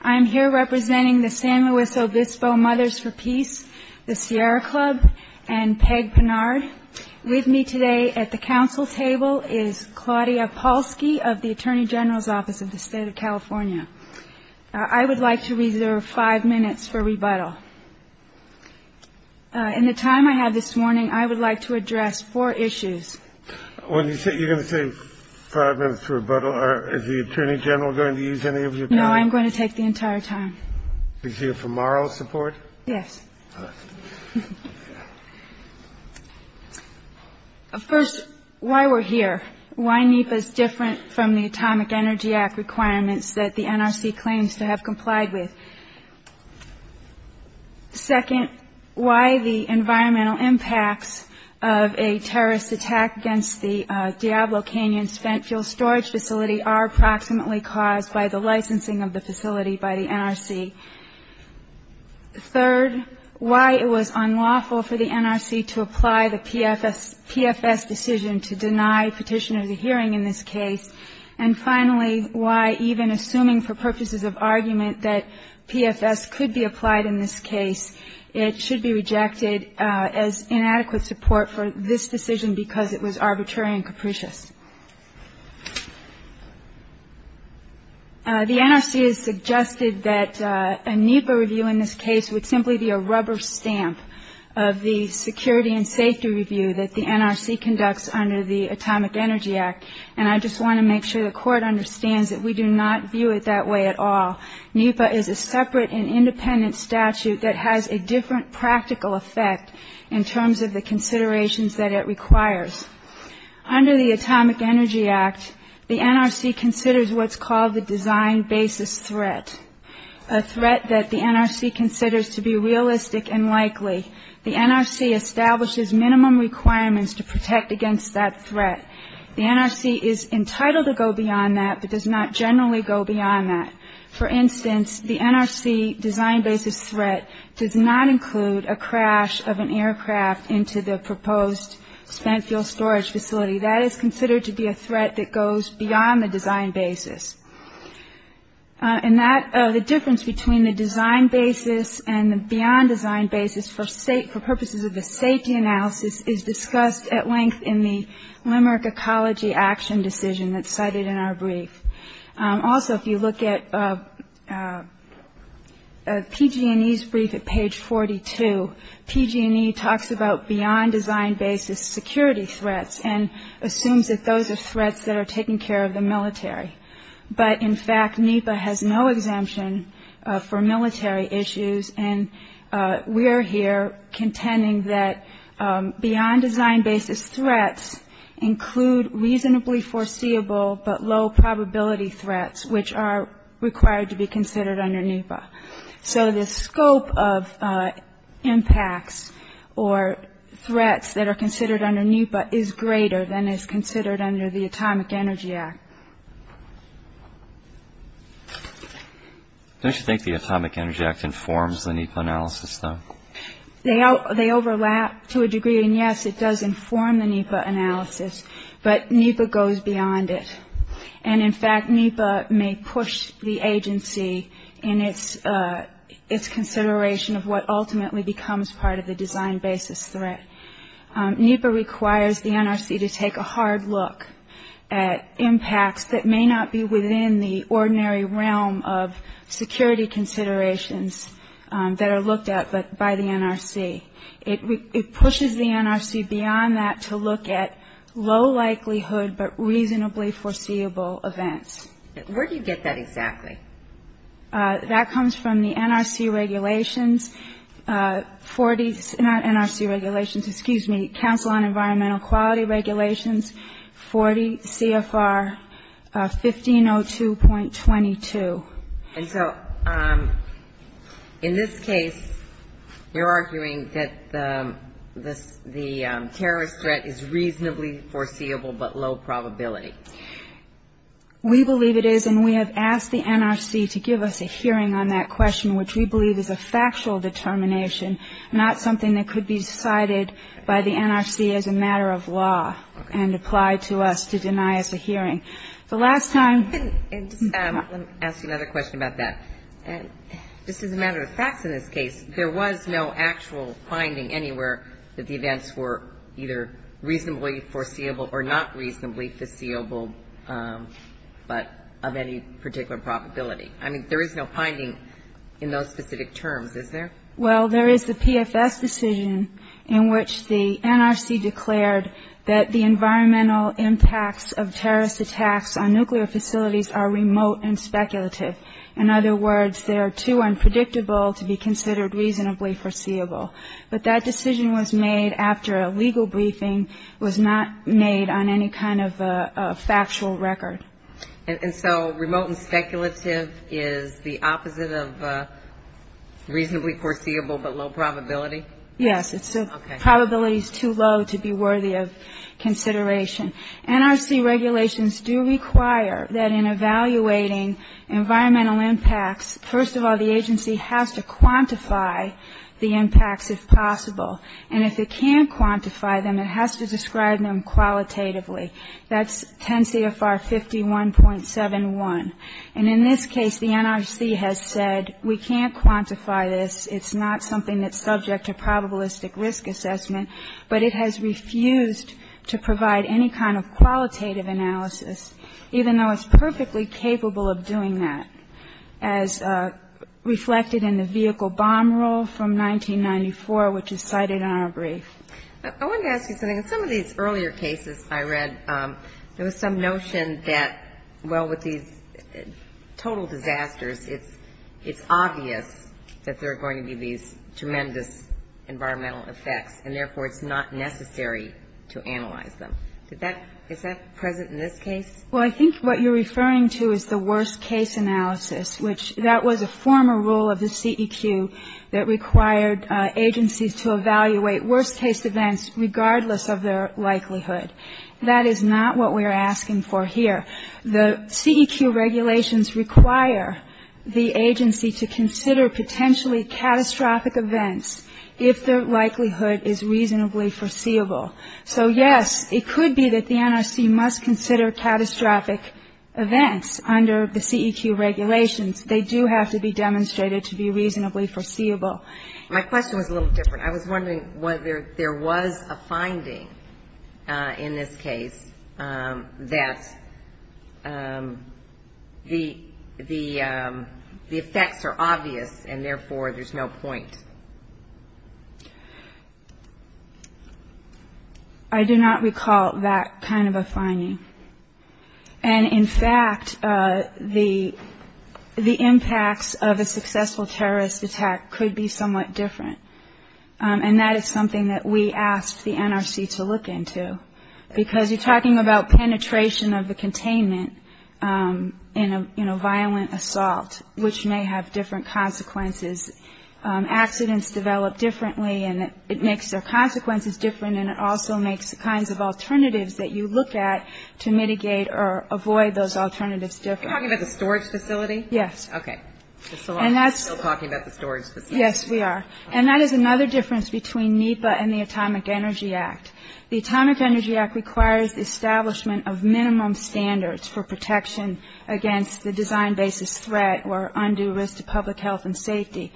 I am here representing the San Luis Obispo Mothers for Peace, the Sierra Club, and Peg Pinard. With me today at the council table is Claudia Polsky of the Attorney General's Office of the State of California. I would like to reserve five minutes for rebuttal. In the time I have this morning, I would like to address four issues. You're going to say five minutes for rebuttal. Is the Attorney General going to use any of your time? No, I'm going to take the entire time. Is he a for moral support? Yes. Of course, why we're here, why NEPA is different from the Atomic Energy Act requirements that the NRC claims to have complied with. Second, why the environmental impacts of a terrorist attack against the Diablo Canyon spent fuel storage facility are proximately caused by the licensing of the facility by the NRC. Third, why it was unlawful for the NRC to apply the PFS decision to deny petitioners a hearing in this case. And finally, why even assuming for purposes of argument that PFS could be applied in this case, it should be rejected as inadequate support for this decision because it was arbitrary and capricious. The NRC has suggested that a NEPA review in this case would simply be a rubber stamp of the security and safety review that the NRC conducts under the Atomic Energy Act. And I just want to make sure the Court understands that we do not view it that way at all. NEPA is a separate and independent statute that has a different practical effect in terms of the considerations that it requires. Under the Atomic Energy Act, the NRC considers what's called the design basis threat, a threat that the NRC considers to be realistic and likely. The NRC establishes minimum requirements to protect against that threat. The NRC is entitled to go beyond that but does not generally go beyond that. For instance, the NRC design basis threat does not include a crash of an aircraft into the proposed spent fuel storage facility. That is considered to be a threat that goes beyond the design basis. And that, the difference between the design basis and the beyond design basis for purposes of the safety analysis is discussed at length in the Limerick Ecology Action Decision that's cited in our brief. Also, if you look at PG&E's brief at page 42, PG&E talks about beyond design basis security threats and assumes that those are threats that are taking care of the military. But in fact, NEPA has no exemption for military issues and we're here contending that beyond design basis threats include reasonably foreseeable but low probability threats which are required to be considered under NEPA. So the scope of impacts or threats that are considered under NEPA is greater than is considered under the Atomic Energy Act. Don't you think the Atomic Energy Act informs the NEPA analysis though? They overlap to a degree and yes, it does inform the NEPA analysis but NEPA goes beyond it. And in fact, NEPA may push the agency in its consideration of what ultimately becomes part of the design basis threat. NEPA requires the NRC to take a hard look at impacts that may not be within the ordinary realm of security considerations that are looked at by the NRC. It pushes the NRC beyond that to look at low likelihood but reasonably foreseeable events. Where do you get that exactly? That comes from the NRC regulations, 40, not NRC regulations, excuse me, Council on Environmental Quality regulations, 40 CFR 1502.22. And so in this case, you're arguing that the terrorist threat is reasonably foreseeable but low probability? We believe it is and we have asked the NRC to give us a hearing on that question which we believe is a factual determination, not something that could be cited by the NRC as a matter of law and applied to us to deny us a hearing. The last time Let me ask you another question about that. Just as a matter of fact in this case, there was no actual finding anywhere that the events were either reasonably foreseeable or not foreseeable but of any particular probability. I mean, there is no finding in those specific terms, is there? Well, there is the PFS decision in which the NRC declared that the environmental impacts of terrorist attacks on nuclear facilities are remote and speculative. In other words, they're too unpredictable to be considered reasonably foreseeable. But that decision was made after a legal briefing was not made on any kind of factual record. And so remote and speculative is the opposite of reasonably foreseeable but low probability? Yes. It's a probability is too low to be worthy of consideration. NRC regulations do require that in evaluating environmental impacts, first of all, the agency has to quantify the environmental impacts. And if it can't quantify them, it has to describe them qualitatively. That's 10 CFR 51.71. And in this case, the NRC has said we can't quantify this. It's not something that's subject to probabilistic risk assessment. But it has refused to provide any kind of qualitative analysis, even though it's perfectly capable of doing that. As reflected in the vehicle bomb roll from 1994, which is cited in our brief. I wanted to ask you something. In some of these earlier cases I read, there was some notion that, well, with these total disasters, it's obvious that there are going to be these tremendous environmental effects, and therefore it's not necessary to analyze them. Is that present in this case? Well, I think what you're referring to is the worst-case analysis, which that was a former rule of the CEQ that required agencies to evaluate worst-case events regardless of their likelihood. That is not what we are asking for here. The CEQ regulations require the agency to consider potentially catastrophic events if their likelihood is reasonably foreseeable. So yes, it could be that the NRC must consider catastrophic events under the CEQ regulations. They do have to be demonstrated to be reasonably foreseeable. My question was a little different. I was wondering whether there was a finding in this case that the effects are obvious, and therefore there's no point. I do not recall that kind of a finding. And in fact, the impacts of a successful terrorist attack could be somewhat different. And that is something that we asked the NRC to look into, because you're talking about penetration of the containment in a violent assault, which may have different consequences. Accidents develop differently, and it makes their consequences different, and it also makes the kinds of alternatives that you look at to mitigate or avoid those alternatives different. Are you talking about the storage facility? Yes. Okay. So we're still talking about the storage facility. Yes, we are. And that is another difference between NEPA and the Atomic Energy Act. The Atomic Energy Act requires the establishment of minimum standards for protection against the design basis threat or undue risk to public health and safety.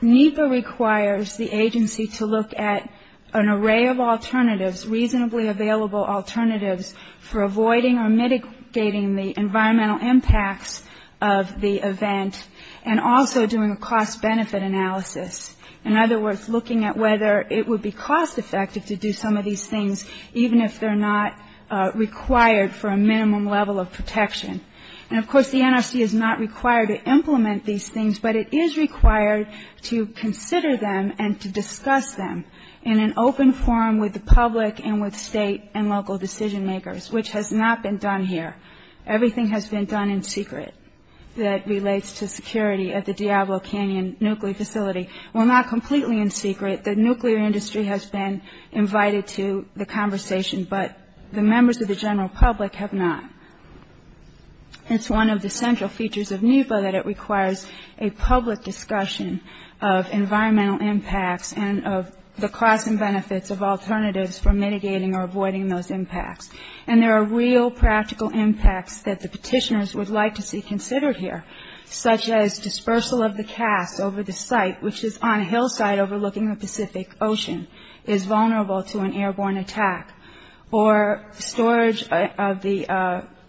NEPA requires the agency to look at an array of alternatives, reasonably available alternatives, for avoiding or mitigating the environmental impacts of the event, and also doing a cost-benefit analysis. In other words, looking at whether it would be cost-effective to do some of these things, even if they're not required for a minimum level of protection. And of course, the NRC is not required to implement these things, but it is required to consider them and to discuss them in an open forum with the public and with state and local decision-makers, which has not been done here. Everything has been done in secret that relates to security at the Diablo Canyon Nuclear Facility. Well, not completely in secret. The nuclear industry has been invited to the conversation, but the members of the general public have not. It's one of the central features of NEPA that it requires a public discussion of environmental impacts and of the costs and benefits of alternatives for mitigating or avoiding those impacts. And there are real practical impacts that the petitioners would like to see considered here, such as dispersal of the cast over the site, which is on a hillside overlooking the Pacific Ocean, is vulnerable to an airborne attack, or storage of the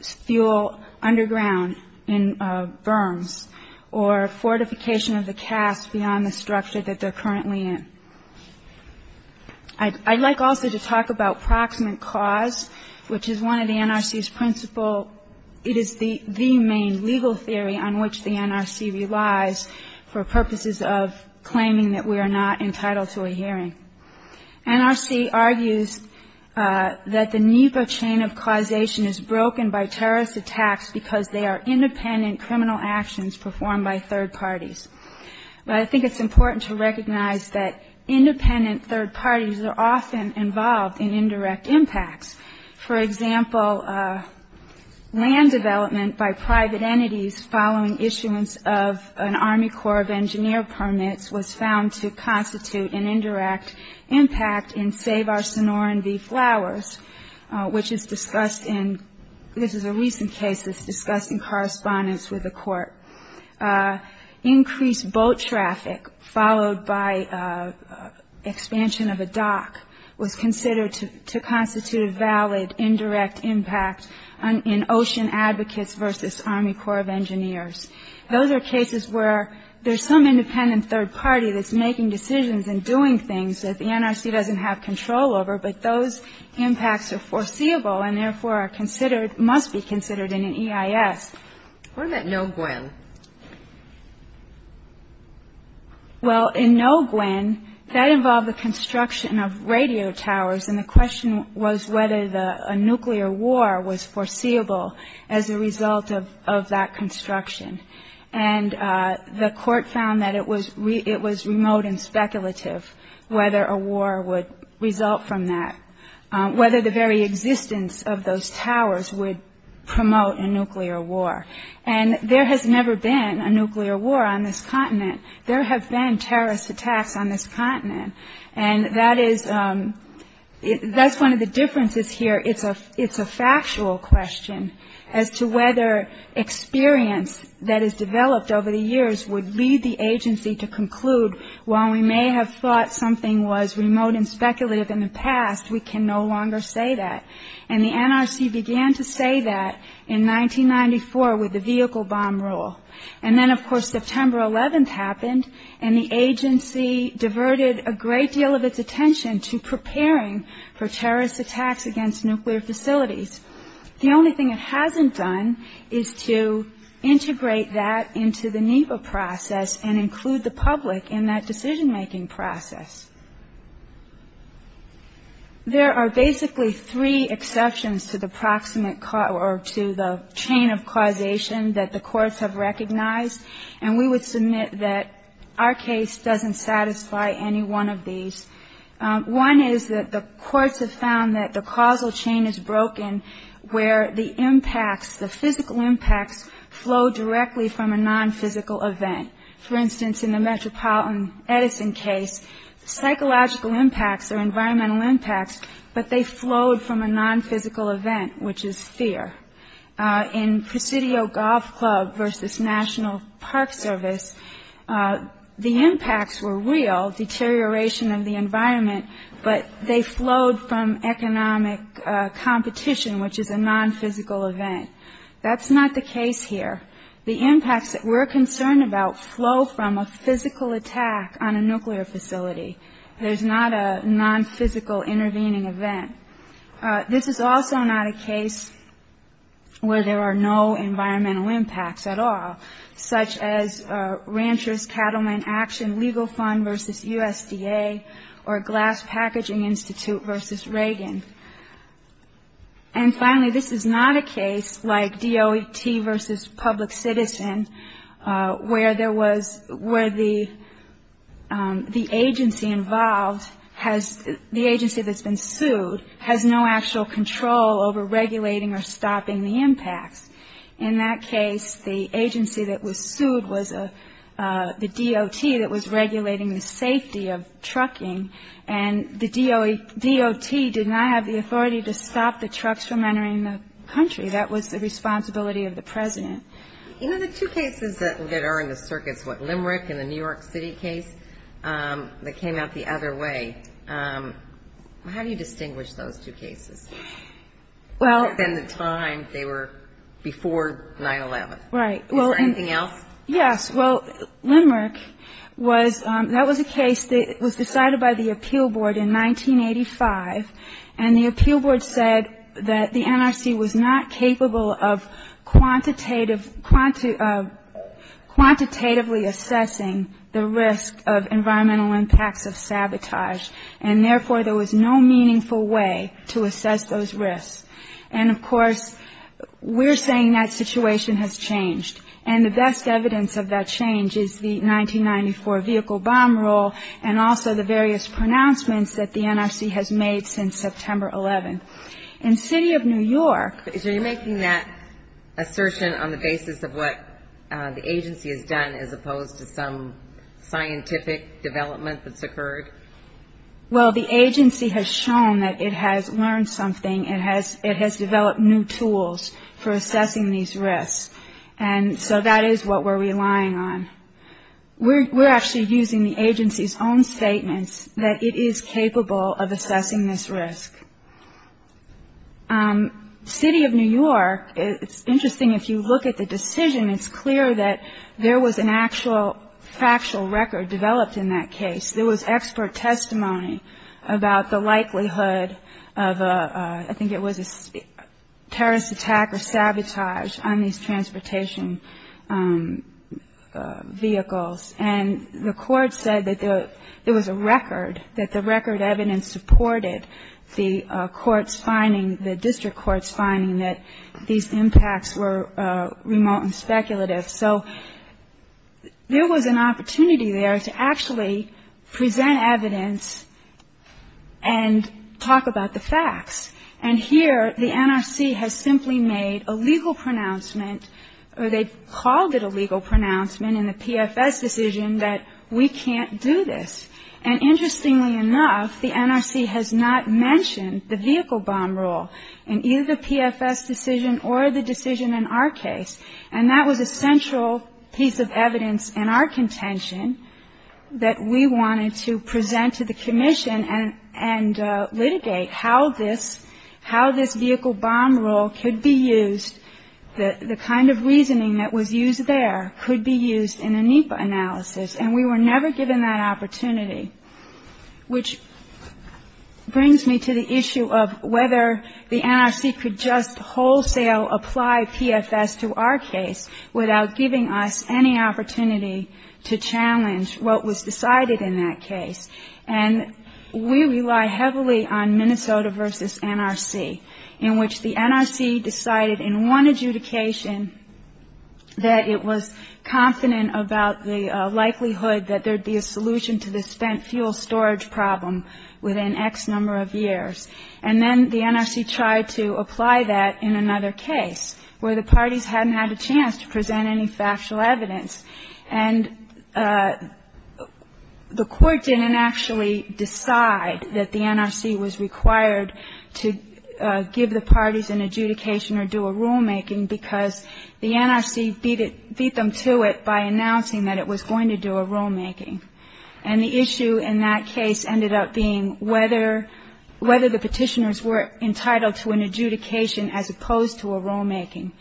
fuel underground in berms, or fortification of the cast beyond the structure that they're currently in. I'd like also to talk about proximate cause, which is one of the NRC's principle. It is the main legal theory on which the NRC relies for purposes of claiming that we are not entitled to a hearing. NRC argues that the NEPA chain of causation is broken by terrorist attacks because they are independent criminal actions performed by third parties. But I think it's important to recognize that independent third parties are often involved in indirect impacts. For instance, following issuance of an Army Corps of Engineers permit was found to constitute an indirect impact in Save Our Sonoran V Flowers, which is discussed in, this is a recent case that's discussed in correspondence with the court. Increased boat traffic, followed by expansion of a dock, was considered to constitute a valid indirect impact in Ocean Advocates versus Army Corps of Engineers. Those are cases where there's some independent third party that's making decisions and doing things that the NRC doesn't have control over, but those impacts are foreseeable, and therefore are considered, must be considered in an EIS. What about No Gwen? Well, in No Gwen, that involved the construction of radio towers, and the question was whether a nuclear war was foreseeable as a result of that construction. And the court found that it was remote and speculative whether a war would result from that, whether the very existence of those towers would promote a nuclear war. And there has never been a nuclear war on this continent. There have been terrorist attacks on this continent, and that is, that's one of the differences here. It's a factual question as to whether experience that has developed over the years would lead the agency to conclude, while we may have thought something was remote and speculative in the past, we can no longer say that. And the NRC began to say that in 1994 with the vehicle bomb rule. And then of course September 11th happened, and the agency diverted a great deal of its attention to preparing for terrorist attacks against nuclear facilities. The only thing it hasn't done is to integrate that into the NEPA process and include the public in that decision-making process. There are basically three exceptions to the chain of causation that the courts have recognized, and we would submit that our case doesn't satisfy any one of these. One is that the courts have found that the causal chain is broken where the impacts, the physical impacts flow directly from a nonphysical event. For instance, in the Metropolitan Edison case, psychological impacts or environmental impacts, but they flowed from a nonphysical event, which is fear. In Presidio Golf Club v. National Park Service, the impacts were real, deterioration of the environment, but they flowed from economic competition, which is a nonphysical event. That's not the case here. The impacts that we're concerned about flow from a physical attack on a nuclear facility. There's not a nonphysical intervening event. This is also not a case where there are no environmental impacts at all, such as Ranchers Cattlemen Action Legal Fund v. USDA or Glass Packaging Institute v. Reagan. And finally, this is not a case like DOT v. Public Citizen where the agency involved has, the agency that's been sued, has no actual control over regulating or stopping the impacts. In that case, the agency that was sued was the DOT that was regulating the safety of trucking, and the DOT did not have the authority to stop the trucks from entering the country. That was the responsibility of the President. You know, the two cases that are in the circuits, what, Limerick and the New York City case that came out the other way, how do you distinguish those two cases? Well at the time they were before 9-11. Is there anything else? Right. Well, yes. Well, Limerick was, that was a case that was decided by the Appeal Board in 1985, and the Appeal Board said that the NRC was not capable of quantitatively assessing the risk of environmental impacts of sabotage, and therefore there was no meaningful way to assess those risks. And of course, we're saying that situation has changed, and the best evidence of that change is the 1994 vehicle bomb rule and also the various pronouncements that the NRC has made since September 11th. In the City of New York So you're making that assertion on the basis of what the agency has done as opposed to some scientific development that's occurred? Well, the agency has shown that it has learned something. It has developed new tools for assessing these risks, and so that is what we're relying on. We're actually using the agency's own statements that it is capable of assessing this risk. The City of New York, it's interesting if you look at the decision, it's clear that there was an actual factual record developed in that case. There was expert testimony about the likelihood of a, I think it was a terrorist attack or sabotage on these transportation vehicles, and the court said that there was a record, that the record evidence supported the court's finding, the district court's finding that these impacts were remote and speculative. So there was an opportunity there to actually present evidence and talk about the facts. And here, the NRC has simply made a legal pronouncement, or they called it a legal pronouncement in the PFS decision that we can't do this. And interestingly enough, the NRC has not mentioned the vehicle bomb rule in either the PFS decision or the decision in our case. And that was a central piece of evidence in our contention that we wanted to present to the Commission and litigate how this vehicle bomb rule could be used, the kind of reasoning that was used there, could be used in a NEPA analysis. And we were able to do that. It brings me to the issue of whether the NRC could just wholesale apply PFS to our case without giving us any opportunity to challenge what was decided in that case. And we rely heavily on Minnesota v. NRC, in which the NRC decided in one adjudication that it was confident about the likelihood that there would be a solution to the spent fuel storage problem within X number of years. And then the NRC tried to apply that in another case where the parties hadn't had a chance to present any factual evidence. And the Court didn't actually decide that the NRC was required to give the parties an adjudication or do a rulemaking because the NRC beat them to it by announcing that it was going to do a rulemaking. And the issue in that case ended up being whether the Petitioners were entitled to an adjudication as opposed to a rulemaking.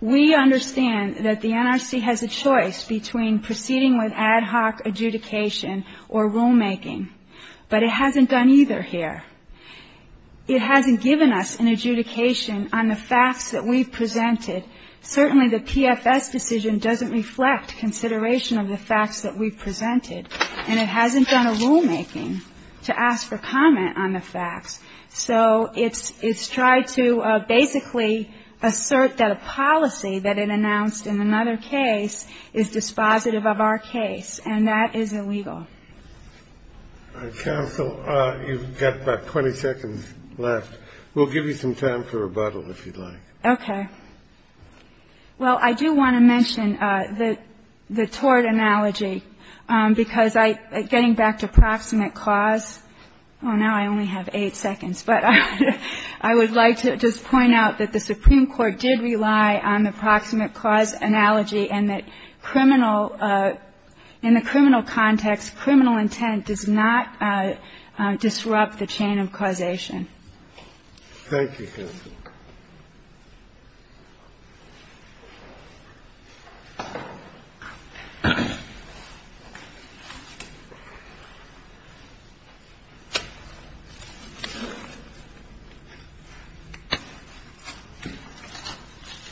We understand that the NRC has a choice between proceeding with ad hoc adjudication or rulemaking. But it hasn't done either here. It hasn't given us an adjudication on the facts that we've presented. Certainly the PFS decision doesn't reflect consideration of the facts that we've presented. And it hasn't done a rulemaking to ask for comment on the facts. So it's tried to basically assert that a policy that it announced in another case is dispositive of our case. And that is illegal. All right. Counsel, you've got about 20 seconds left. We'll give you some time for rebuttal if you'd like. Okay. Well, I do want to mention the tort analogy, because I — getting back to proximate clause — oh, now I only have eight seconds. But I would like to just point out that the Supreme Court did rely on the proximate clause analogy and that criminal — in the criminal context, criminal intent does not disrupt the chain of causation. Thank you, Counsel.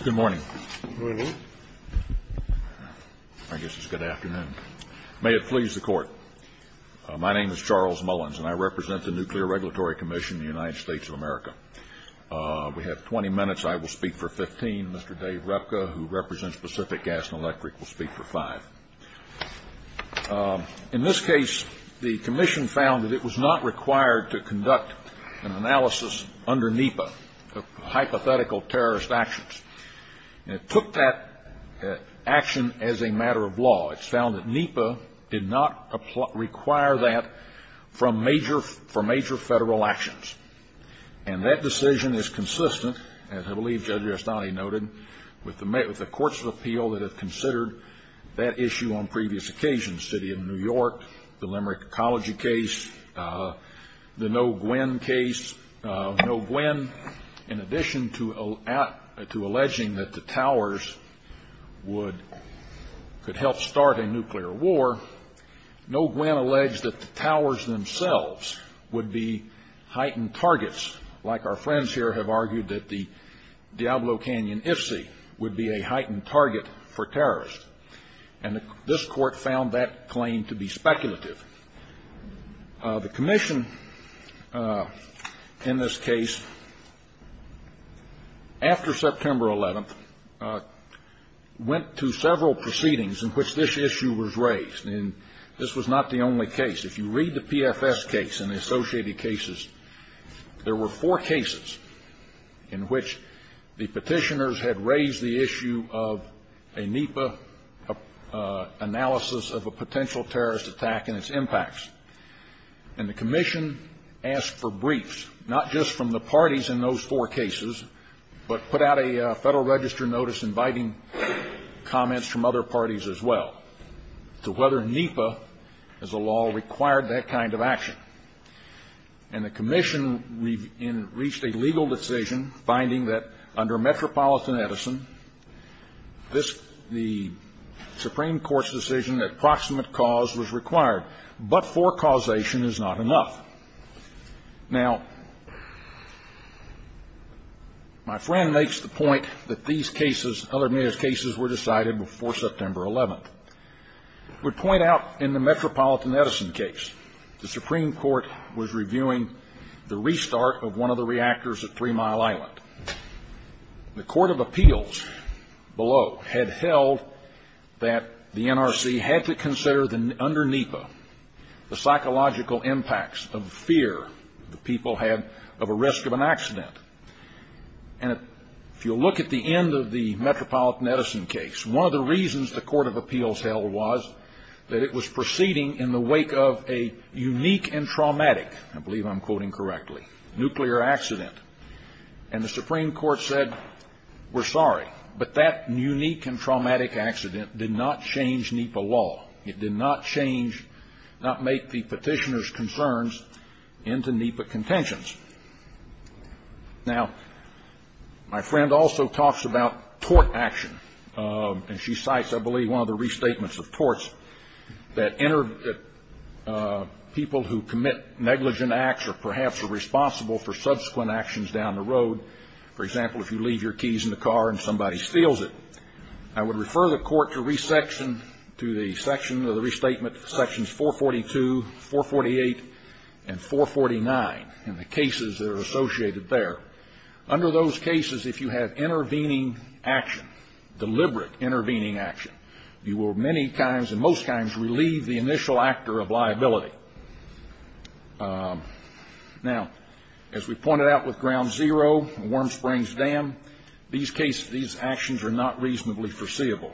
Good morning. Good morning. I guess it's good afternoon. May it please the Court, my name is Charles Mullins, and I represent the Nuclear Regulatory Commission of the United States of America. We have 20 minutes. I will speak for 15. Mr. Dave Repka, who represents Pacific Gas and Electric, will speak for five. In this case, the Commission found that it was not required to conduct an analysis under NEPA, hypothetical terrorist actions. It took that action as a matter of law. It found that NEPA did not require that from major — for major Federal actions. And that decision is consistent, as I believe Judge Estany noted, with the courts of appeal that have considered that issue on previous occasions, the City of New York, the Limerick Ecology case, the NEPA case. No gwin, in addition to alleging that the towers would — could help start a nuclear war, no gwin alleged that the towers themselves would be heightened targets, like our friends here have argued that the Diablo Canyon IFC would be a heightened target for terrorists. And this Court found that claim to be speculative. The Commission, in this case, after September 11th, went to several proceedings in which this issue was raised. And this was not the only case. If you read the PFS case and the associated cases, there were four cases in which the Petitioners had raised the issue of a NEPA analysis of a potential terrorist attack and its impacts. And the Commission asked for briefs, not just from the parties in those four cases, but put out a Federal Register notice inviting comments from other parties as well, to whether NEPA, as a law, required that kind of action. And the Commission reached a legal decision finding that, under Metropolitan Edison, the Supreme Court's decision that proximate cause was required, but forecausation is not enough. Now, my friend makes the point that these cases — other cases were decided before the Supreme Court was reviewing the restart of one of the reactors at Three Mile Island. The Court of Appeals below had held that the NRC had to consider, under NEPA, the psychological impacts of fear the people had of a risk of an accident. And if you'll look at the end of the Metropolitan Edison case, one of the reasons the Court of Appeals held was that it was proceeding in the wake of a unique and traumatic — I believe I'm quoting correctly — nuclear accident. And the Supreme Court said, we're sorry. But that unique and traumatic accident did not change NEPA law. It did not change — not make the petitioner's concerns into NEPA contentions. Now, my friend also talks about tort action. And she cites, I believe, one of the restatements of torts that people who commit negligent acts or perhaps are responsible for subsequent actions down the road — for example, if you leave your keys in the car and somebody steals it — I would refer the Court to resection — to the section of the restatement, sections 442, 448, and 449, and the cases that are associated there. Under those cases, if you have intervening action, deliberate intervening action, you will many times and most times relieve the initial actor of liability. Now, as we pointed out with Ground Zero and Warm Springs Dam, these actions are not reasonably foreseeable.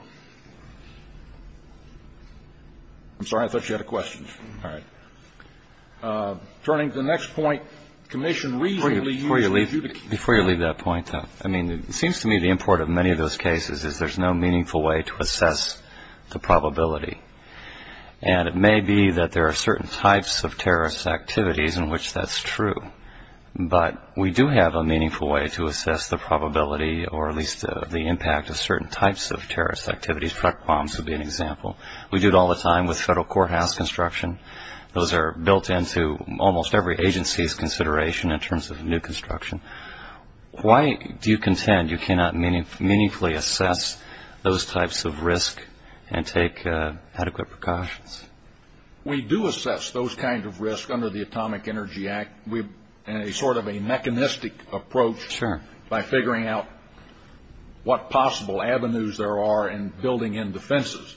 I'm sorry. I thought you had a question. All right. Turning to the next point, the Commission reasonably uses adjudication. Before you leave that point, though, I mean, it seems to me the import of many of those cases is there's no meaningful way to assess the probability. And it may be that there are certain types of terrorist activities in which that's true. But we do have a meaningful way to assess the probability or at least the impact of certain types of terrorist activities. Truck bombs would be an example. We do it all the time with federal courthouse construction. Those are built into almost every agency's consideration in terms of new construction. Why do you contend you cannot meaningfully assess those types of risk and take adequate precautions? We do assess those kinds of risks under the Atomic Energy Act in a sort of a mechanistic approach by figuring out what possible avenues there are in building in defenses.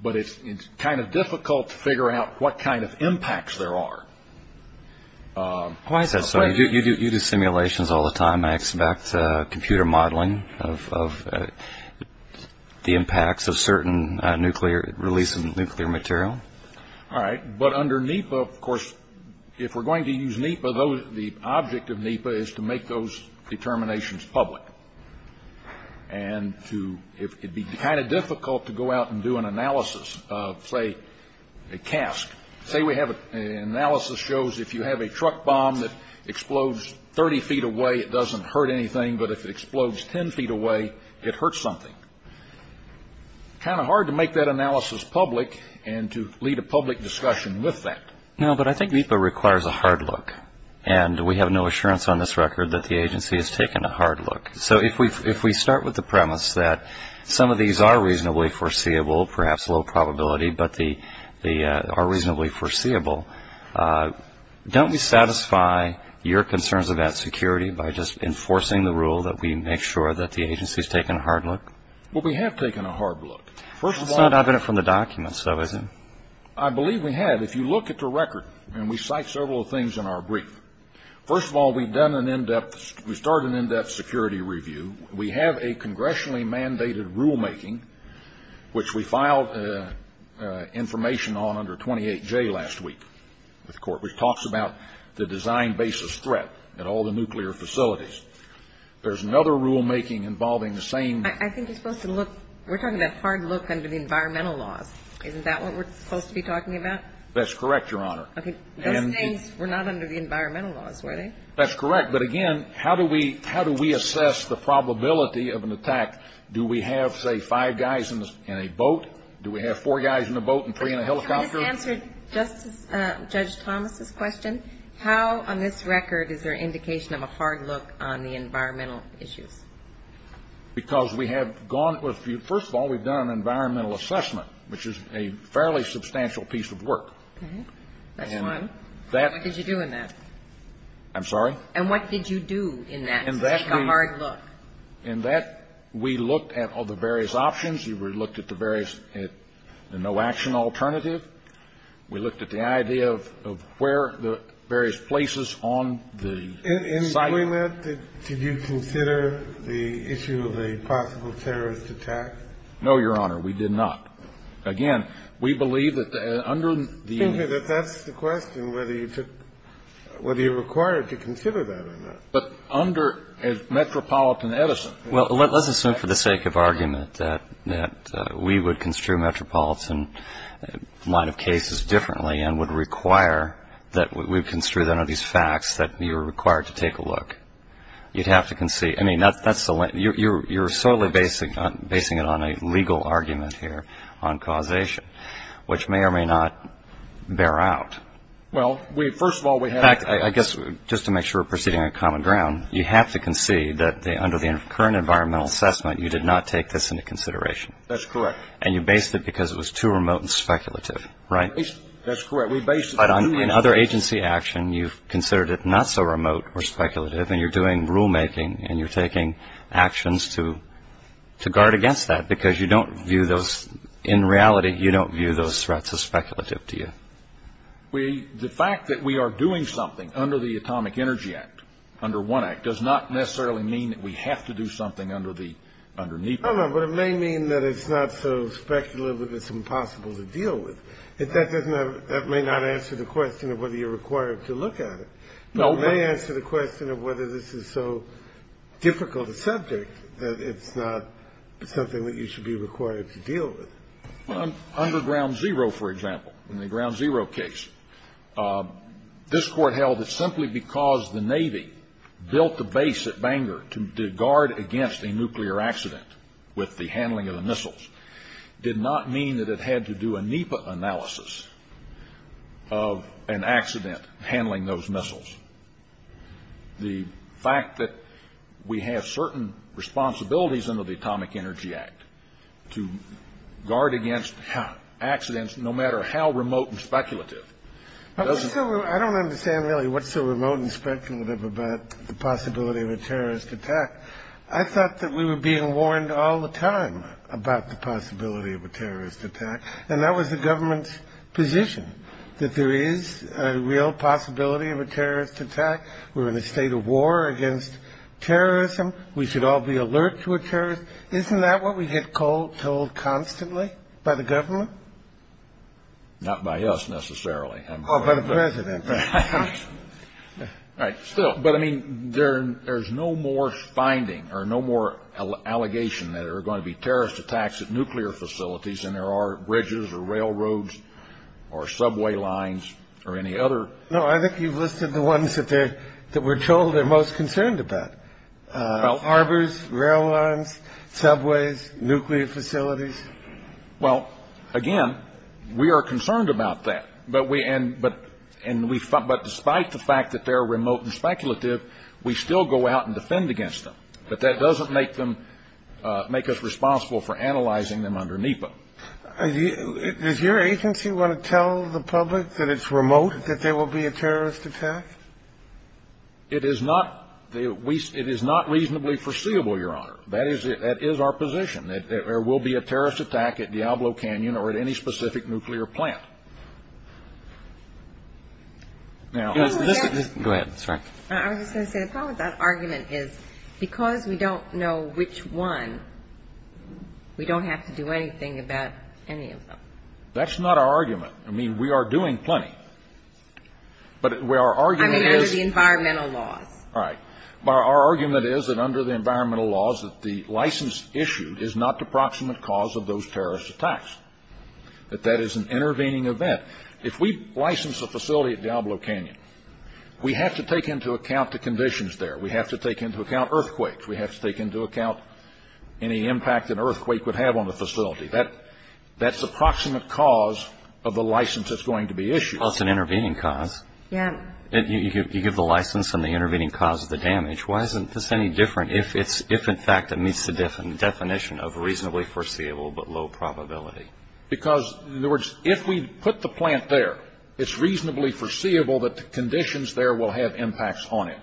But it's kind of difficult to figure out what kind of impacts there are. Why is that so? You do simulations all the time. I expect computer modeling of the impacts of certain nuclear release of nuclear material. All right. But under NEPA, of course, if we're going to use NEPA, the object of NEPA is to make those determinations public. And it'd be kind of difficult to go out and do an analysis of, say, a cask. Say we have an analysis that shows if you have a truck bomb that explodes 30 feet away, it doesn't hurt anything. But if it explodes 10 feet away, it hurts something. Kind of hard to make that analysis public and to lead a public discussion with that. No, but I think NEPA requires a hard look. And we have no assurance on this record that the agency has taken a hard look. So if we start with the premise that some of these are reasonably foreseeable, perhaps low probability, but are reasonably foreseeable, don't we satisfy your concerns about security by just enforcing the rule that we make sure that the agency has taken a hard look? Well, we have taken a hard look. That's not evident from the documents, though, is it? I believe we have. If you look at the record, and we cite several things in our brief. First of all, we've done an in-depth, we started an in-depth security review. We have a congressionally mandated rulemaking, which we filed information on under 28J last week with the court, which talks about the design basis threat at all the nuclear facilities. There's another rulemaking involving the same I think it's supposed to look, we're talking about hard look under the environmental laws. Isn't that what we're supposed to be talking about? That's correct, Your Honor. Those things were not under the environmental laws, were they? That's correct, but again, how do we assess the probability of an attack? Do we have, say, five guys in a boat? Do we have four guys in a boat and three in a helicopter? Can we just answer Judge Thomas' question? How, on this record, is there indication of a hard look on the environmental issues? Because we have gone, first of all, we've done an environmental assessment, which is a fairly substantial piece of work. Okay. That's one. What did you do in that? I'm sorry? And what did you do in that to make a hard look? In that, we looked at all the various options. We looked at the various, at the no-action alternative. We looked at the idea of where the various places on the site are. In doing that, did you consider the issue of a possible terrorist attack? No, Your Honor. We did not. Again, we believe that under the It seems to me that that's the question, whether you took, whether you're required to consider that or not. But under a metropolitan edison. Well, let's assume for the sake of argument that we would construe metropolitan line of cases differently and would require that we construe them under these facts that you're required to take a look. You'd have to concede. I mean, that's the, you're solely basing it on a legal argument here on causation, which may or may not bear out. Well, we, first of all, we have In fact, I guess, just to make sure we're proceeding on common ground, you have to concede that under the current environmental assessment, you did not take this into consideration. That's correct. And you based it because it was too remote and speculative, right? That's correct. We based it But on other agency action, you've considered it not so remote or speculative, and you're doing rulemaking and you're taking actions to to guard against that because you don't view those. In reality, you don't view those threats as speculative to you. The fact that we are doing something under the Atomic Energy Act, under one act, does not necessarily mean that we have to do something under the, under NEPA. No, no, but it may mean that it's not so speculative that it's impossible to deal with. That doesn't have, that may not answer the question of whether you're required to look at it. No, but it may answer the question of whether this is so difficult a subject that it's not something that you should be required to deal with. Under Ground Zero, for example, in the Ground Zero case, this Court held that simply because the Navy built the base at Bangor to guard against a nuclear accident with the handling of the missiles did not mean that it had to do a NEPA analysis of an accident handling those missiles. The fact that we have certain responsibilities under the Atomic Energy Act to guard against accidents, no matter how remote and speculative, doesn't... I don't understand really what's so remote and speculative about the possibility of a terrorist attack. I thought that we were being warned all the time about the possibility of a terrorist attack, and that was the government's position, that there is a real possibility of a terrorist attack. We're in a state of war against terrorism. We should all be alert to a terrorist. Isn't that what we get told constantly by the government? Not by us, necessarily. Oh, by the President. Right, still, but I mean, there's no more finding or no more allegation that there are going to be terrorist attacks at nuclear facilities, and there are bridges or railroads or subway lines or any other... No, I think you've listed the ones that we're told they're most concerned about. Harbors, rail lines, subways, nuclear facilities. Well, again, we are concerned about that, but we... But despite the fact that they're remote and speculative, we still go out and defend against them. But that doesn't make them, make us responsible for analyzing them under NEPA. Does your agency want to tell the public that it's remote, that there will be a terrorist attack? It is not. It is not reasonably foreseeable, Your Honor. That is our position, that there will be a terrorist attack at Diablo Canyon or at any specific nuclear plant. Now... Go ahead. That's right. I was going to say, the problem with that argument is, because we don't know which one, we don't have to do anything about any of them. That's not our argument. I mean, we are doing plenty. But our argument is... I mean, under the environmental laws. Right. But our argument is that under the environmental laws, that the license issued is not the proximate cause of those terrorist attacks, that that is an intervening event. If we license a facility at Diablo Canyon, we have to take into account the conditions there. We have to take into account earthquakes. We have to take into account any impact an earthquake would have on the facility. That's the proximate cause of the license that's going to be issued. Well, it's an intervening cause. Yeah. You give the license and the intervening cause is the damage. Why isn't this any different if in fact it meets the definition of reasonably foreseeable but low probability? Because, in other words, if we put the plant there, it's reasonably foreseeable that the conditions there will have impacts on it.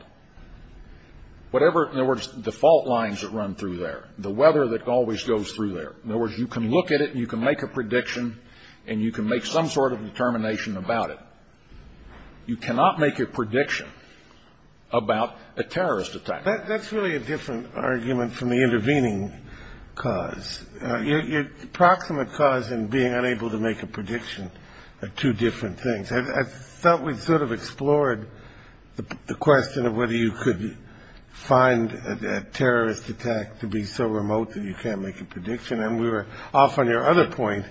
Whatever, in other words, default lines that run through there. The weather that always goes through there. In other words, you can look at it and you can make a prediction and you can make some sort of determination about it. You cannot make a prediction about a terrorist attack. That's really a different argument from the intervening cause. Your proximate cause and being unable to make a prediction are two different things. I thought we sort of explored the question of whether you could find a terrorist attack to be so remote that you can't make a prediction. And we were off on your other point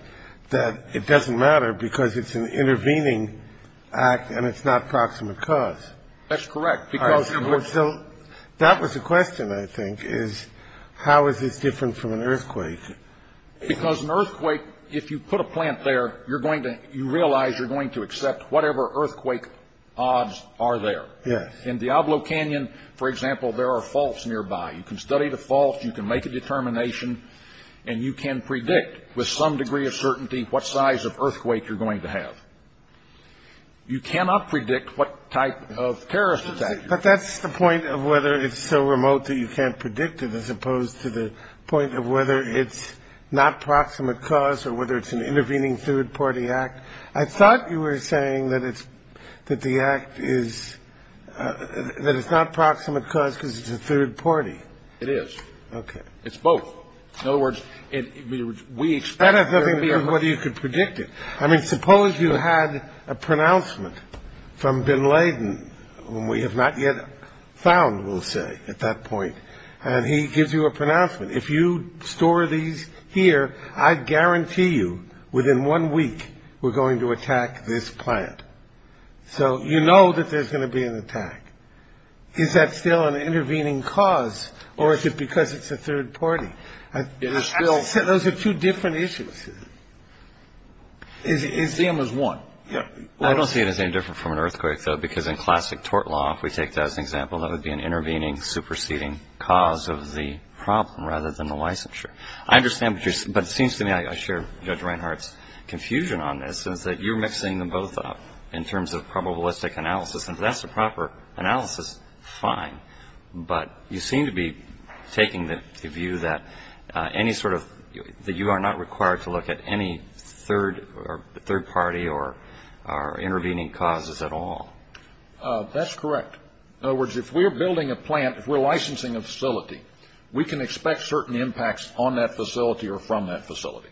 that it doesn't matter because it's an intervening act and it's not proximate cause. That's correct. So that was the question, I think, is how is this different from an earthquake? Because an earthquake, if you put a plant there, you're going to you realize you're going to accept whatever earthquake odds are there. Yes. In Diablo Canyon, for example, there are faults nearby. You can study the faults, you can make a determination and you can predict with some degree of certainty what size of earthquake you're going to have. You cannot predict what type of terrorist attack. But that's the point of whether it's so remote that you can't predict it as opposed to the point of whether it's not proximate cause or whether it's an intervening third party act. I thought you were saying that it's that the act is that it's not proximate cause because it's a third party. It is. OK. It's both. In other words, we expect whether you could predict it. I mean, suppose you had a pronouncement from Bin Laden when we have not yet found, we'll say at that point. And he gives you a pronouncement. If you store these here, I guarantee you within one week we're going to attack this plant. So, you know that there's going to be an attack. Is that still an intervening cause or is it because it's a third party? It is still. Those are two different issues. Is the theme is one. Yeah, I don't see anything different from an earthquake, though, because in classic tort law, if we take that as an example, that would be an intervening superseding cause of the problem rather than the licensure. I understand. But it seems to me I share Judge Reinhart's confusion on this is that you're mixing them both up in terms of probabilistic analysis. That's the proper analysis. Fine. But you seem to be taking the view that any sort of that you are not required to look at any third or third party or are intervening causes at all. That's correct. In other words, if we're building a plant, if we're licensing a facility, we can expect certain impacts on that facility or from that facility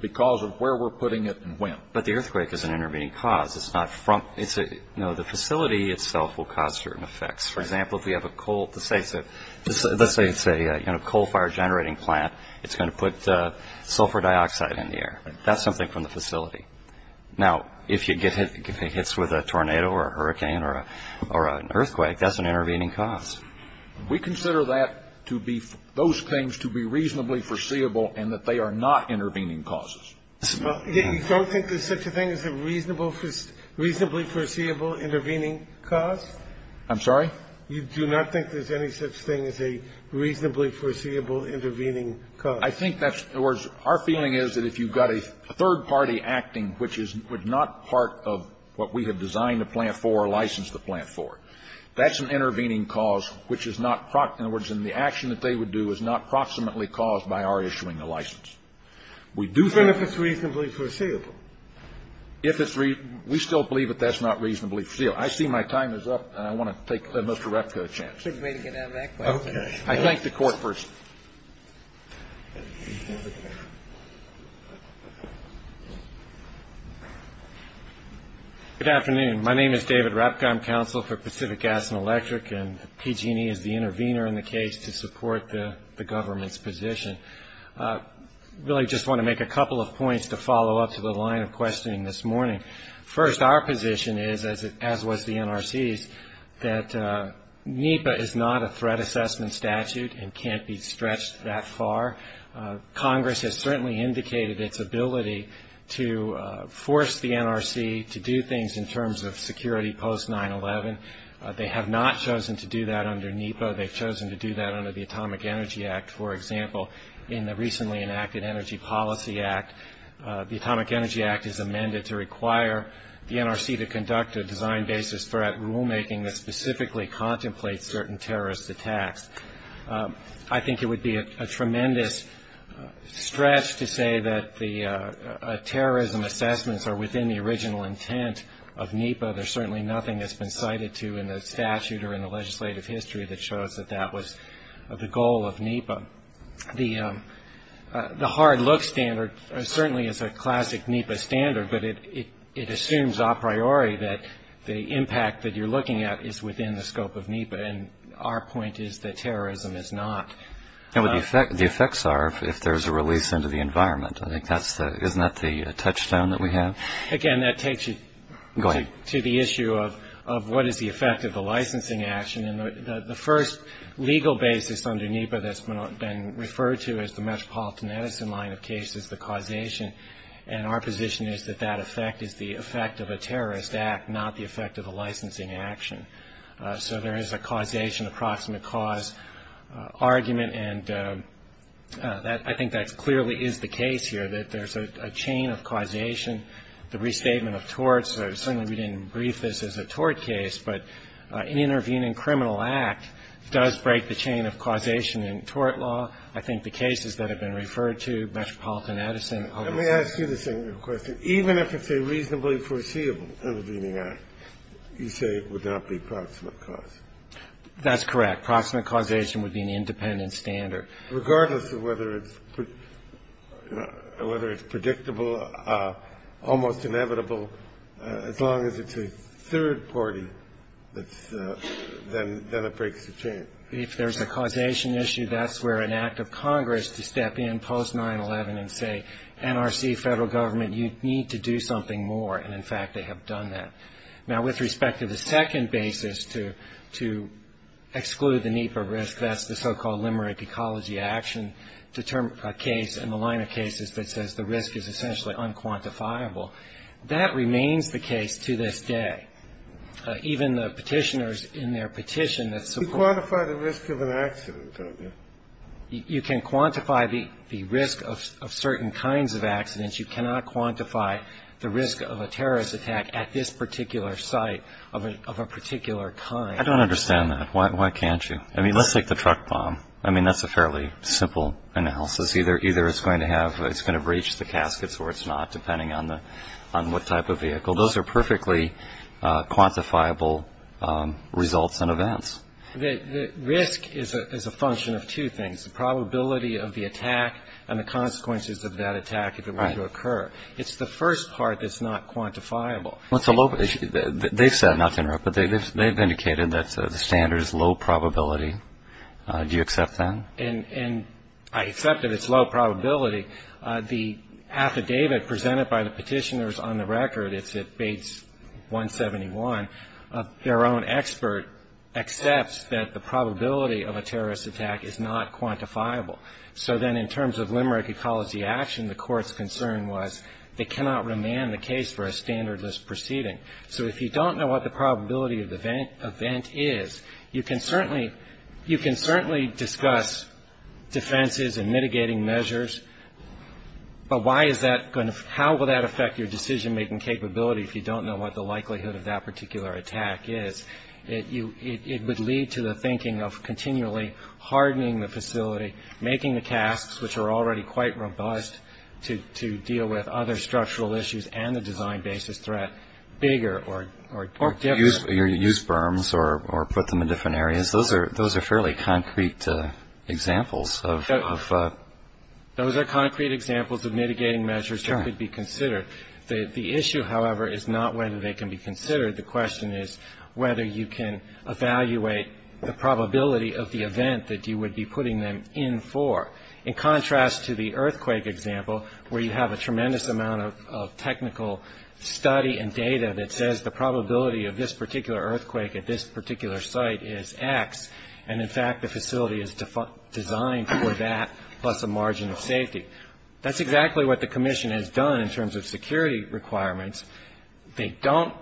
because of where we're putting it and when. But the earthquake is an intervening cause. It's not from it's a you know, the facility itself will cause certain effects. For example, if we have a coal to say so, let's say it's a coal fire generating plant. It's going to put sulfur dioxide in the air. That's something from the facility. Now, if you get hit, it hits with a tornado or a hurricane or or an earthquake, that's an intervening cause. We consider that to be those things to be reasonably foreseeable and that they are not intervening causes. You don't think there's such a thing as a reasonable, reasonably foreseeable intervening cause? I'm sorry? You do not think there's any such thing as a reasonably foreseeable intervening cause? I think that's our feeling is that if you've got a third party acting, which is not part of what we have designed a plant for or licensed the plant for, that's an intervening cause, which is not in the action that they would do is not proximately caused by our issuing the license. We do that if it's reasonably foreseeable, if it's we still believe that that's not reasonably. I see my time is up and I want to take Mr. Repco a chance. I think the court first. Good afternoon, my name is David Repcom, counsel for Pacific Gas and Electric, and PG&E is the intervener in the case to support the government's position. Really just want to make a couple of points to follow up to the line of questioning this morning. First, our position is, as was the NRC's, that NEPA is not a threat assessment statute and can't be stretched that far. Congress has certainly indicated its ability to force the NRC to do things in terms of security post 9-11. They have not chosen to do that under NEPA. They've chosen to do that under the Atomic Energy Act, for example, in the recently enacted Energy Policy Act. The Atomic Energy Act is amended to require the NRC to conduct a design basis threat rulemaking that specifically contemplates certain terrorist attacks. I think it would be a tremendous stretch to say that the terrorism assessments are within the original intent of NEPA. There's certainly nothing that's been cited to in the statute or in the legislative history that shows that that was the goal of NEPA. The hard look standard certainly is a classic NEPA standard, but it assumes a priori that the impact that you're looking at is within the scope of NEPA. And our point is that terrorism is not. And what the effects are if there's a release into the environment. I think that's the, isn't that the touchstone that we have? Again, that takes you to the issue of what is the effect of the licensing action. And the first legal basis under NEPA that's been referred to as the Metropolitan Edison line of case is the causation. And our position is that that effect is the effect of a terrorist act, not the effect of a licensing action. So there is a causation, approximate cause argument. And I think that clearly is the case here, that there's a chain of causation, the restatement of torts. Certainly we didn't brief this as a tort case, but an intervening criminal act does break the chain of causation in tort law. I think the cases that have been referred to Metropolitan Edison. Let me ask you the same question. Even if it's a reasonably foreseeable intervening act, you say it would not be approximate cause. That's correct. Approximate causation would be an independent standard. Regardless of whether it's predictable, almost inevitable, as long as it's a third party, then it breaks the chain. If there's a causation issue, that's where an act of Congress to step in post 9-11 and say, NRC, federal government, you need to do something more. And in fact, they have done that. Now, with respect to the second basis to exclude the NEPA risk, that's the so-called limerick ecology action case in the line of cases that says the risk is essentially unquantifiable. That remains the case to this day. Even the petitioners in their petition that support. You quantify the risk of an accident, don't you? You can quantify the risk of certain kinds of accidents. You cannot quantify the risk of a terrorist attack at this particular site of a particular kind. I don't understand that. Why can't you? I mean, let's take the truck bomb. I mean, that's a fairly simple analysis. Either either it's going to have it's going to reach the caskets or it's not, depending on the on what type of vehicle. Those are perfectly quantifiable results and events. The risk is a function of two things, the probability of the attack and the consequences of that attack. If it were to occur, it's the first part that's not quantifiable. It's a low issue that they've said, not to interrupt, but they've indicated that the standard is low probability. Do you accept that? And I accept that it's low probability. The affidavit presented by the petitioners on the record, it's at Bates 171, their own expert accepts that the probability of a terrorist attack is not quantifiable. So then in terms of limerick ecology action, the court's concern was they cannot remand the case for a standard list proceeding. So if you don't know what the probability of the event event is, you can certainly you can certainly discuss defenses and mitigating measures. But why is that going to how will that affect your decision making capability if you don't know what the likelihood of that particular attack is? It you it would lead to the thinking of continually hardening the facility, making the structural issues and the design basis threat bigger or or use your use berms or or put them in different areas. Those are those are fairly concrete examples of those are concrete examples of mitigating measures that could be considered. The issue, however, is not whether they can be considered. The question is whether you can evaluate the probability of the event that you would be putting them in for in contrast to the earthquake example, where you have a tremendous amount of technical study and data that says the probability of this particular earthquake at this particular site is X. And in fact, the facility is designed for that plus a margin of safety. That's exactly what the commission has done in terms of security requirements. They don't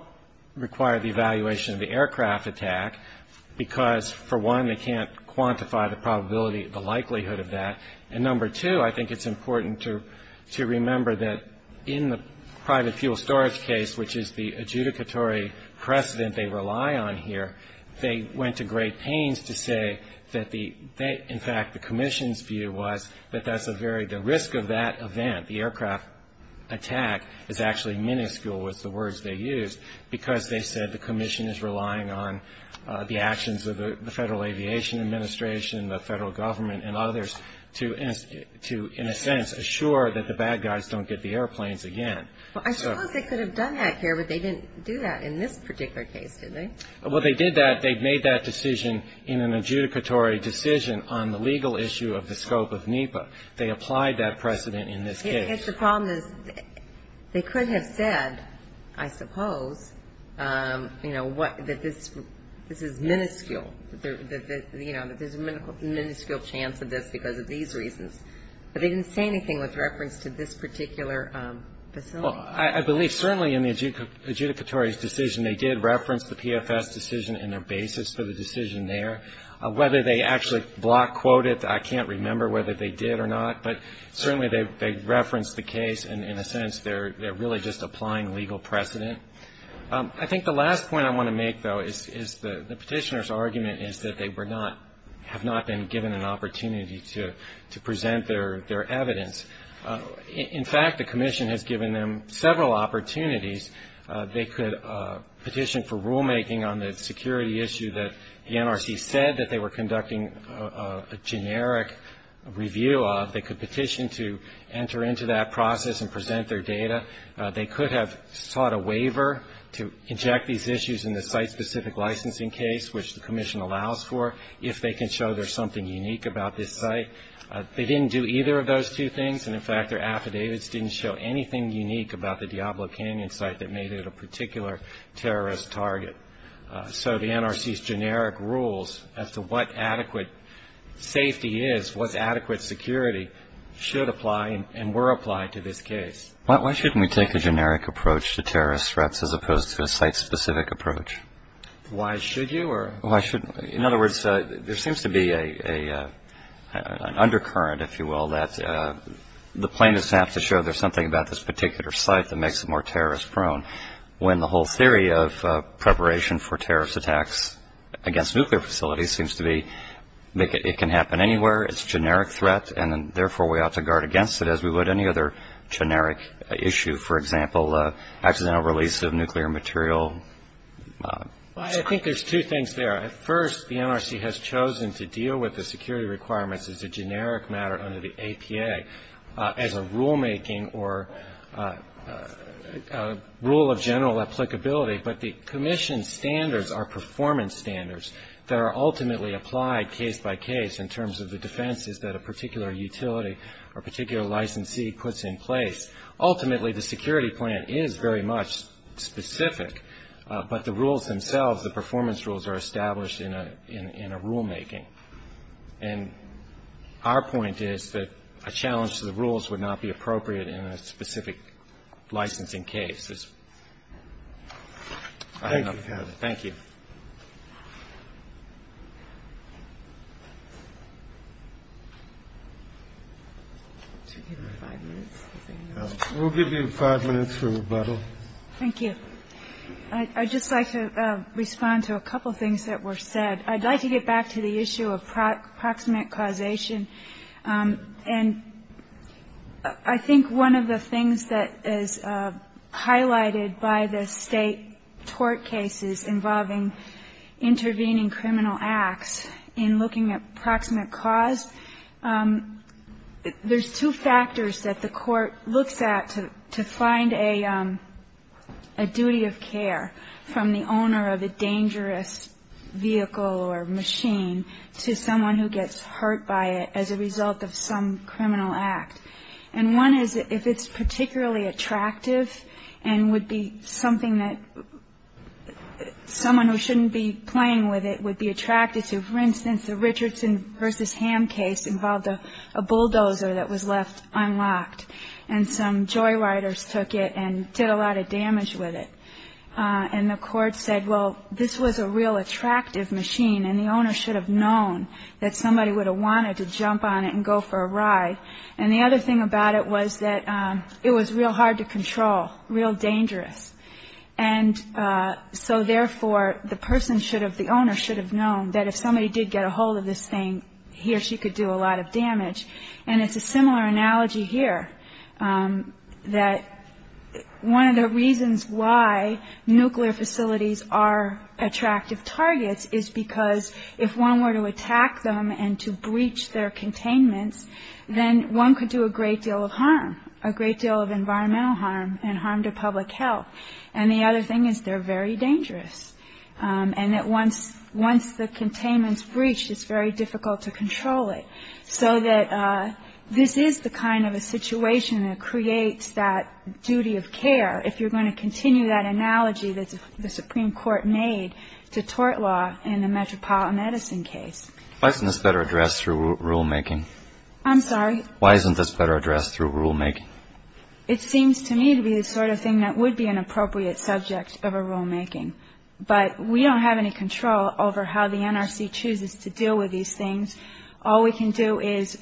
require the evaluation of the aircraft attack because, for one, they can't evaluate the probability, the likelihood of that. And number two, I think it's important to to remember that in the private fuel storage case, which is the adjudicatory precedent they rely on here, they went to great pains to say that the in fact, the commission's view was that that's a very the risk of that event. The aircraft attack is actually minuscule was the words they used because they said the Aviation Administration, the federal government and others to to, in a sense, assure that the bad guys don't get the airplanes again. Well, I suppose they could have done that here, but they didn't do that in this particular case, did they? Well, they did that. They've made that decision in an adjudicatory decision on the legal issue of the scope of NEPA. They applied that precedent in this case. It's the problem is they could have said, I suppose, you know what, that this this is minuscule, you know, that there's a minuscule chance of this because of these reasons. But they didn't say anything with reference to this particular facility. I believe certainly in the adjudicatory decision, they did reference the PFS decision in their basis for the decision there, whether they actually block quoted. I can't remember whether they did or not, but certainly they referenced the case. And in a sense, they're really just applying legal precedent. I think the last point I want to make, though, is the petitioner's argument is that they were not have not been given an opportunity to to present their their evidence. In fact, the commission has given them several opportunities. They could petition for rulemaking on the security issue that the NRC said that they were conducting a generic review of. They could petition to enter into that process and present their data. They could have sought a waiver to inject these issues in the site specific licensing case, which the commission allows for if they can show there's something unique about this site. They didn't do either of those two things. And in fact, their affidavits didn't show anything unique about the Diablo Canyon site that made it a particular terrorist target. So the NRC's generic rules as to what adequate safety is, what's adequate security, should apply and were applied to this case. Why shouldn't we take a generic approach to terrorist threats as opposed to a site specific approach? Why should you or why shouldn't? In other words, there seems to be a undercurrent, if you will, that the plaintiffs have to show there's something about this particular site that makes it more terrorist prone when the whole theory of preparation for terrorist attacks against nuclear facilities seems to be that it can happen anywhere. It's generic threat. And therefore, we ought to guard against it, as we would any other generic issue, for example, accidental release of nuclear material. I think there's two things there. At first, the NRC has chosen to deal with the security requirements as a generic matter under the APA as a rulemaking or rule of general applicability. But the commission's standards are performance standards that are ultimately applied case by case in terms of the defenses that a particular utility or particular licensee puts in place. Ultimately, the security plan is very much specific, but the rules themselves, the performance rules, are established in a rulemaking. And our point is that a challenge to the rules would not be appropriate in a specific licensing case. Thank you. We'll give you five minutes for rebuttal. Thank you. I'd just like to respond to a couple of things that were said. I'd like to get back to the issue of proximate causation. And I think one of the things that is highlighted by the state tort cases involving intervening criminal acts in looking at proximate cause, there's two factors that the court looks at to find a duty of care from the owner of a dangerous vehicle or machine to someone who gets hurt by it as a result of some criminal act. And one is if it's particularly attractive and would be something that someone who shouldn't be playing with it would be attracted to. For instance, the Richardson versus Ham case involved a bulldozer that was left unlocked and some joyriders took it and did a lot of damage with it. And the court said, well, this was a real attractive machine and the owner should have known that somebody would have wanted to jump on it and go for a ride. And the other thing about it was that it was real hard to control, real dangerous. And so therefore, the person should have, the owner should have known that if somebody did get a hold of this thing, he or she could do a lot of damage. And it's a similar analogy here that one of the reasons why nuclear facilities are attractive targets is because if one were to attack them and to breach their containments, then one could do a great deal of harm, a great deal of environmental harm and harm to public health. And the other thing is they're very dangerous. And that once the containment's breached, it's very difficult to control it. So that this is the kind of a situation that creates that duty of care. If you're going to continue that analogy that the Supreme Court made to tort law in the Metropolitan Edison case. Why isn't this better addressed through rulemaking? I'm sorry? Why isn't this better addressed through rulemaking? It seems to me to be the sort of thing that would be an appropriate subject of a rulemaking, but we don't have any control over how the NRC chooses to deal with these things. All we can do is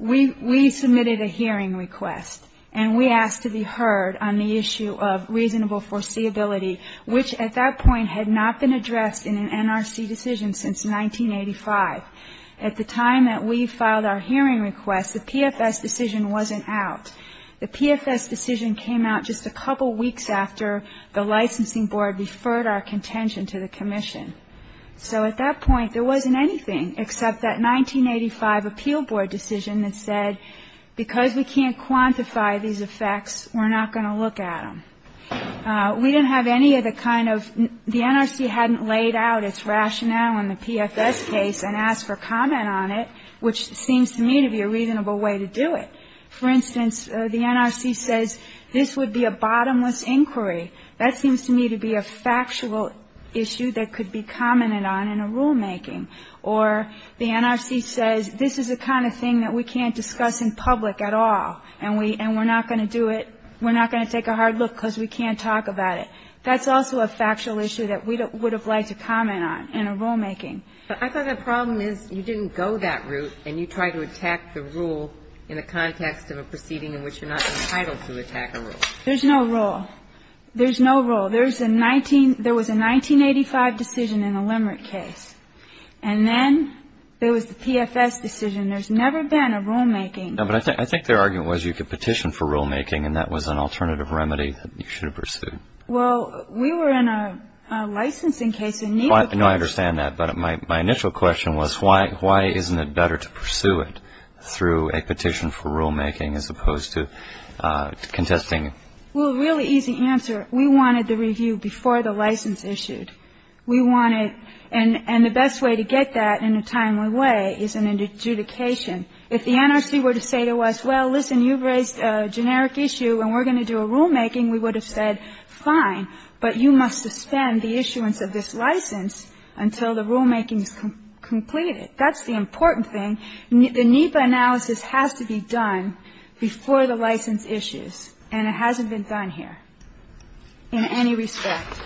we submitted a hearing request and we asked to be heard on the issue of reasonable foreseeability, which at that point had not been addressed in an NRC decision since 1985. At the time that we filed our hearing request, the PFS decision wasn't out. The PFS decision came out just a couple of weeks after the licensing board referred our contention to the commission. So at that point there wasn't anything except that 1985 appeal board decision that said, because we can't quantify these effects, we're not going to look at them. We didn't have any of the kind of, the NRC hadn't laid out its rationale in the PFS case and asked for comment on it, which seems to me to be a reasonable way to do it. For instance, the NRC says this would be a bottomless inquiry. That seems to me to be a factual issue that could be commented on in a rulemaking or the NRC says, this is the kind of thing that we can't discuss in public at all and we, and we're not going to do it. We're not going to take a hard look because we can't talk about it. That's also a factual issue that we would have liked to comment on in a rulemaking. But I thought the problem is you didn't go that route and you try to attack the rule in the context of a proceeding in which you're not entitled to attack a rule. There's no rule. There's no rule. There's a 19, there was a 1985 decision in the Limerick case and then there was the PFS decision. There's never been a rulemaking. No, but I think, I think their argument was you could petition for rulemaking and that was an alternative remedy that you should have pursued. Well, we were in a licensing case. No, I understand that. But my initial question was why, why isn't it better to pursue it through a petition for rulemaking as opposed to contesting? Well, really easy answer. We wanted the review before the license issued. We wanted, and the best way to get that in a timely way is an adjudication. If the NRC were to say to us, well, listen, you've raised a generic issue and we're going to do a rulemaking, we would have said fine, but you must suspend the issuance of this license until the rulemaking is completed. That's the important thing. The NEPA analysis has to be done before the license issues and it hasn't been done here in any respect.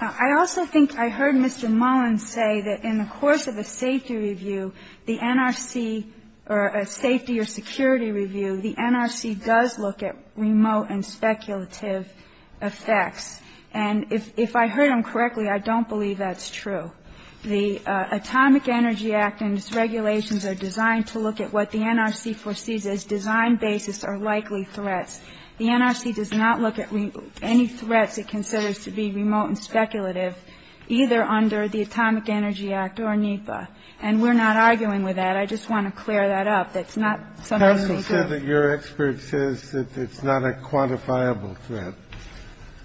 I also think I heard Mr. Mullins say that in the course of the safety review, the NRC does not look at any threats that it considers to be remote and speculative effects, and if I heard him correctly, I don't believe that's true. The Atomic Energy Act and its regulations are designed to look at what the NRC foresees as design basis or likely threats. The NRC does not look at any threats it considers to be remote and speculative, either under the Atomic Energy Act or NEPA, and we're not arguing with that. I just want to clear that up. That's not something that we do. Kennedy said that your expert says that it's not a quantifiable threat.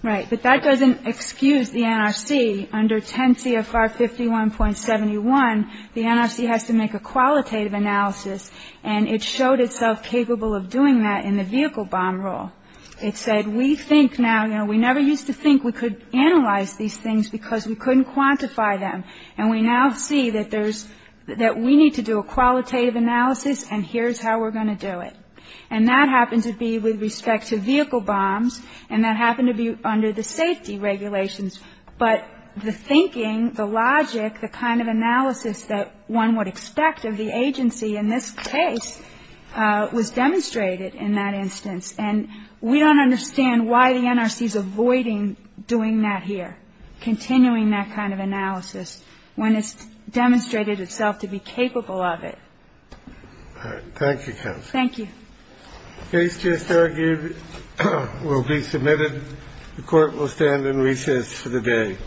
Right. But that doesn't excuse the NRC. Under 10 CFR 51.71, the NRC has to make a qualitative analysis, and it showed itself capable of doing that in the vehicle bomb rule. It said we think now, you know, we never used to think we could analyze these things because we couldn't quantify them, and we now see that there's that we need to do a and here's how we're going to do it, and that happened to be with respect to vehicle bombs, and that happened to be under the safety regulations, but the thinking, the logic, the kind of analysis that one would expect of the agency in this case was demonstrated in that instance, and we don't understand why the NRC is avoiding doing that here, continuing that kind of analysis when it's demonstrated itself to be capable of it. Thank you, counsel. Thank you. Case just argued will be submitted. The court will stand in recess for the day.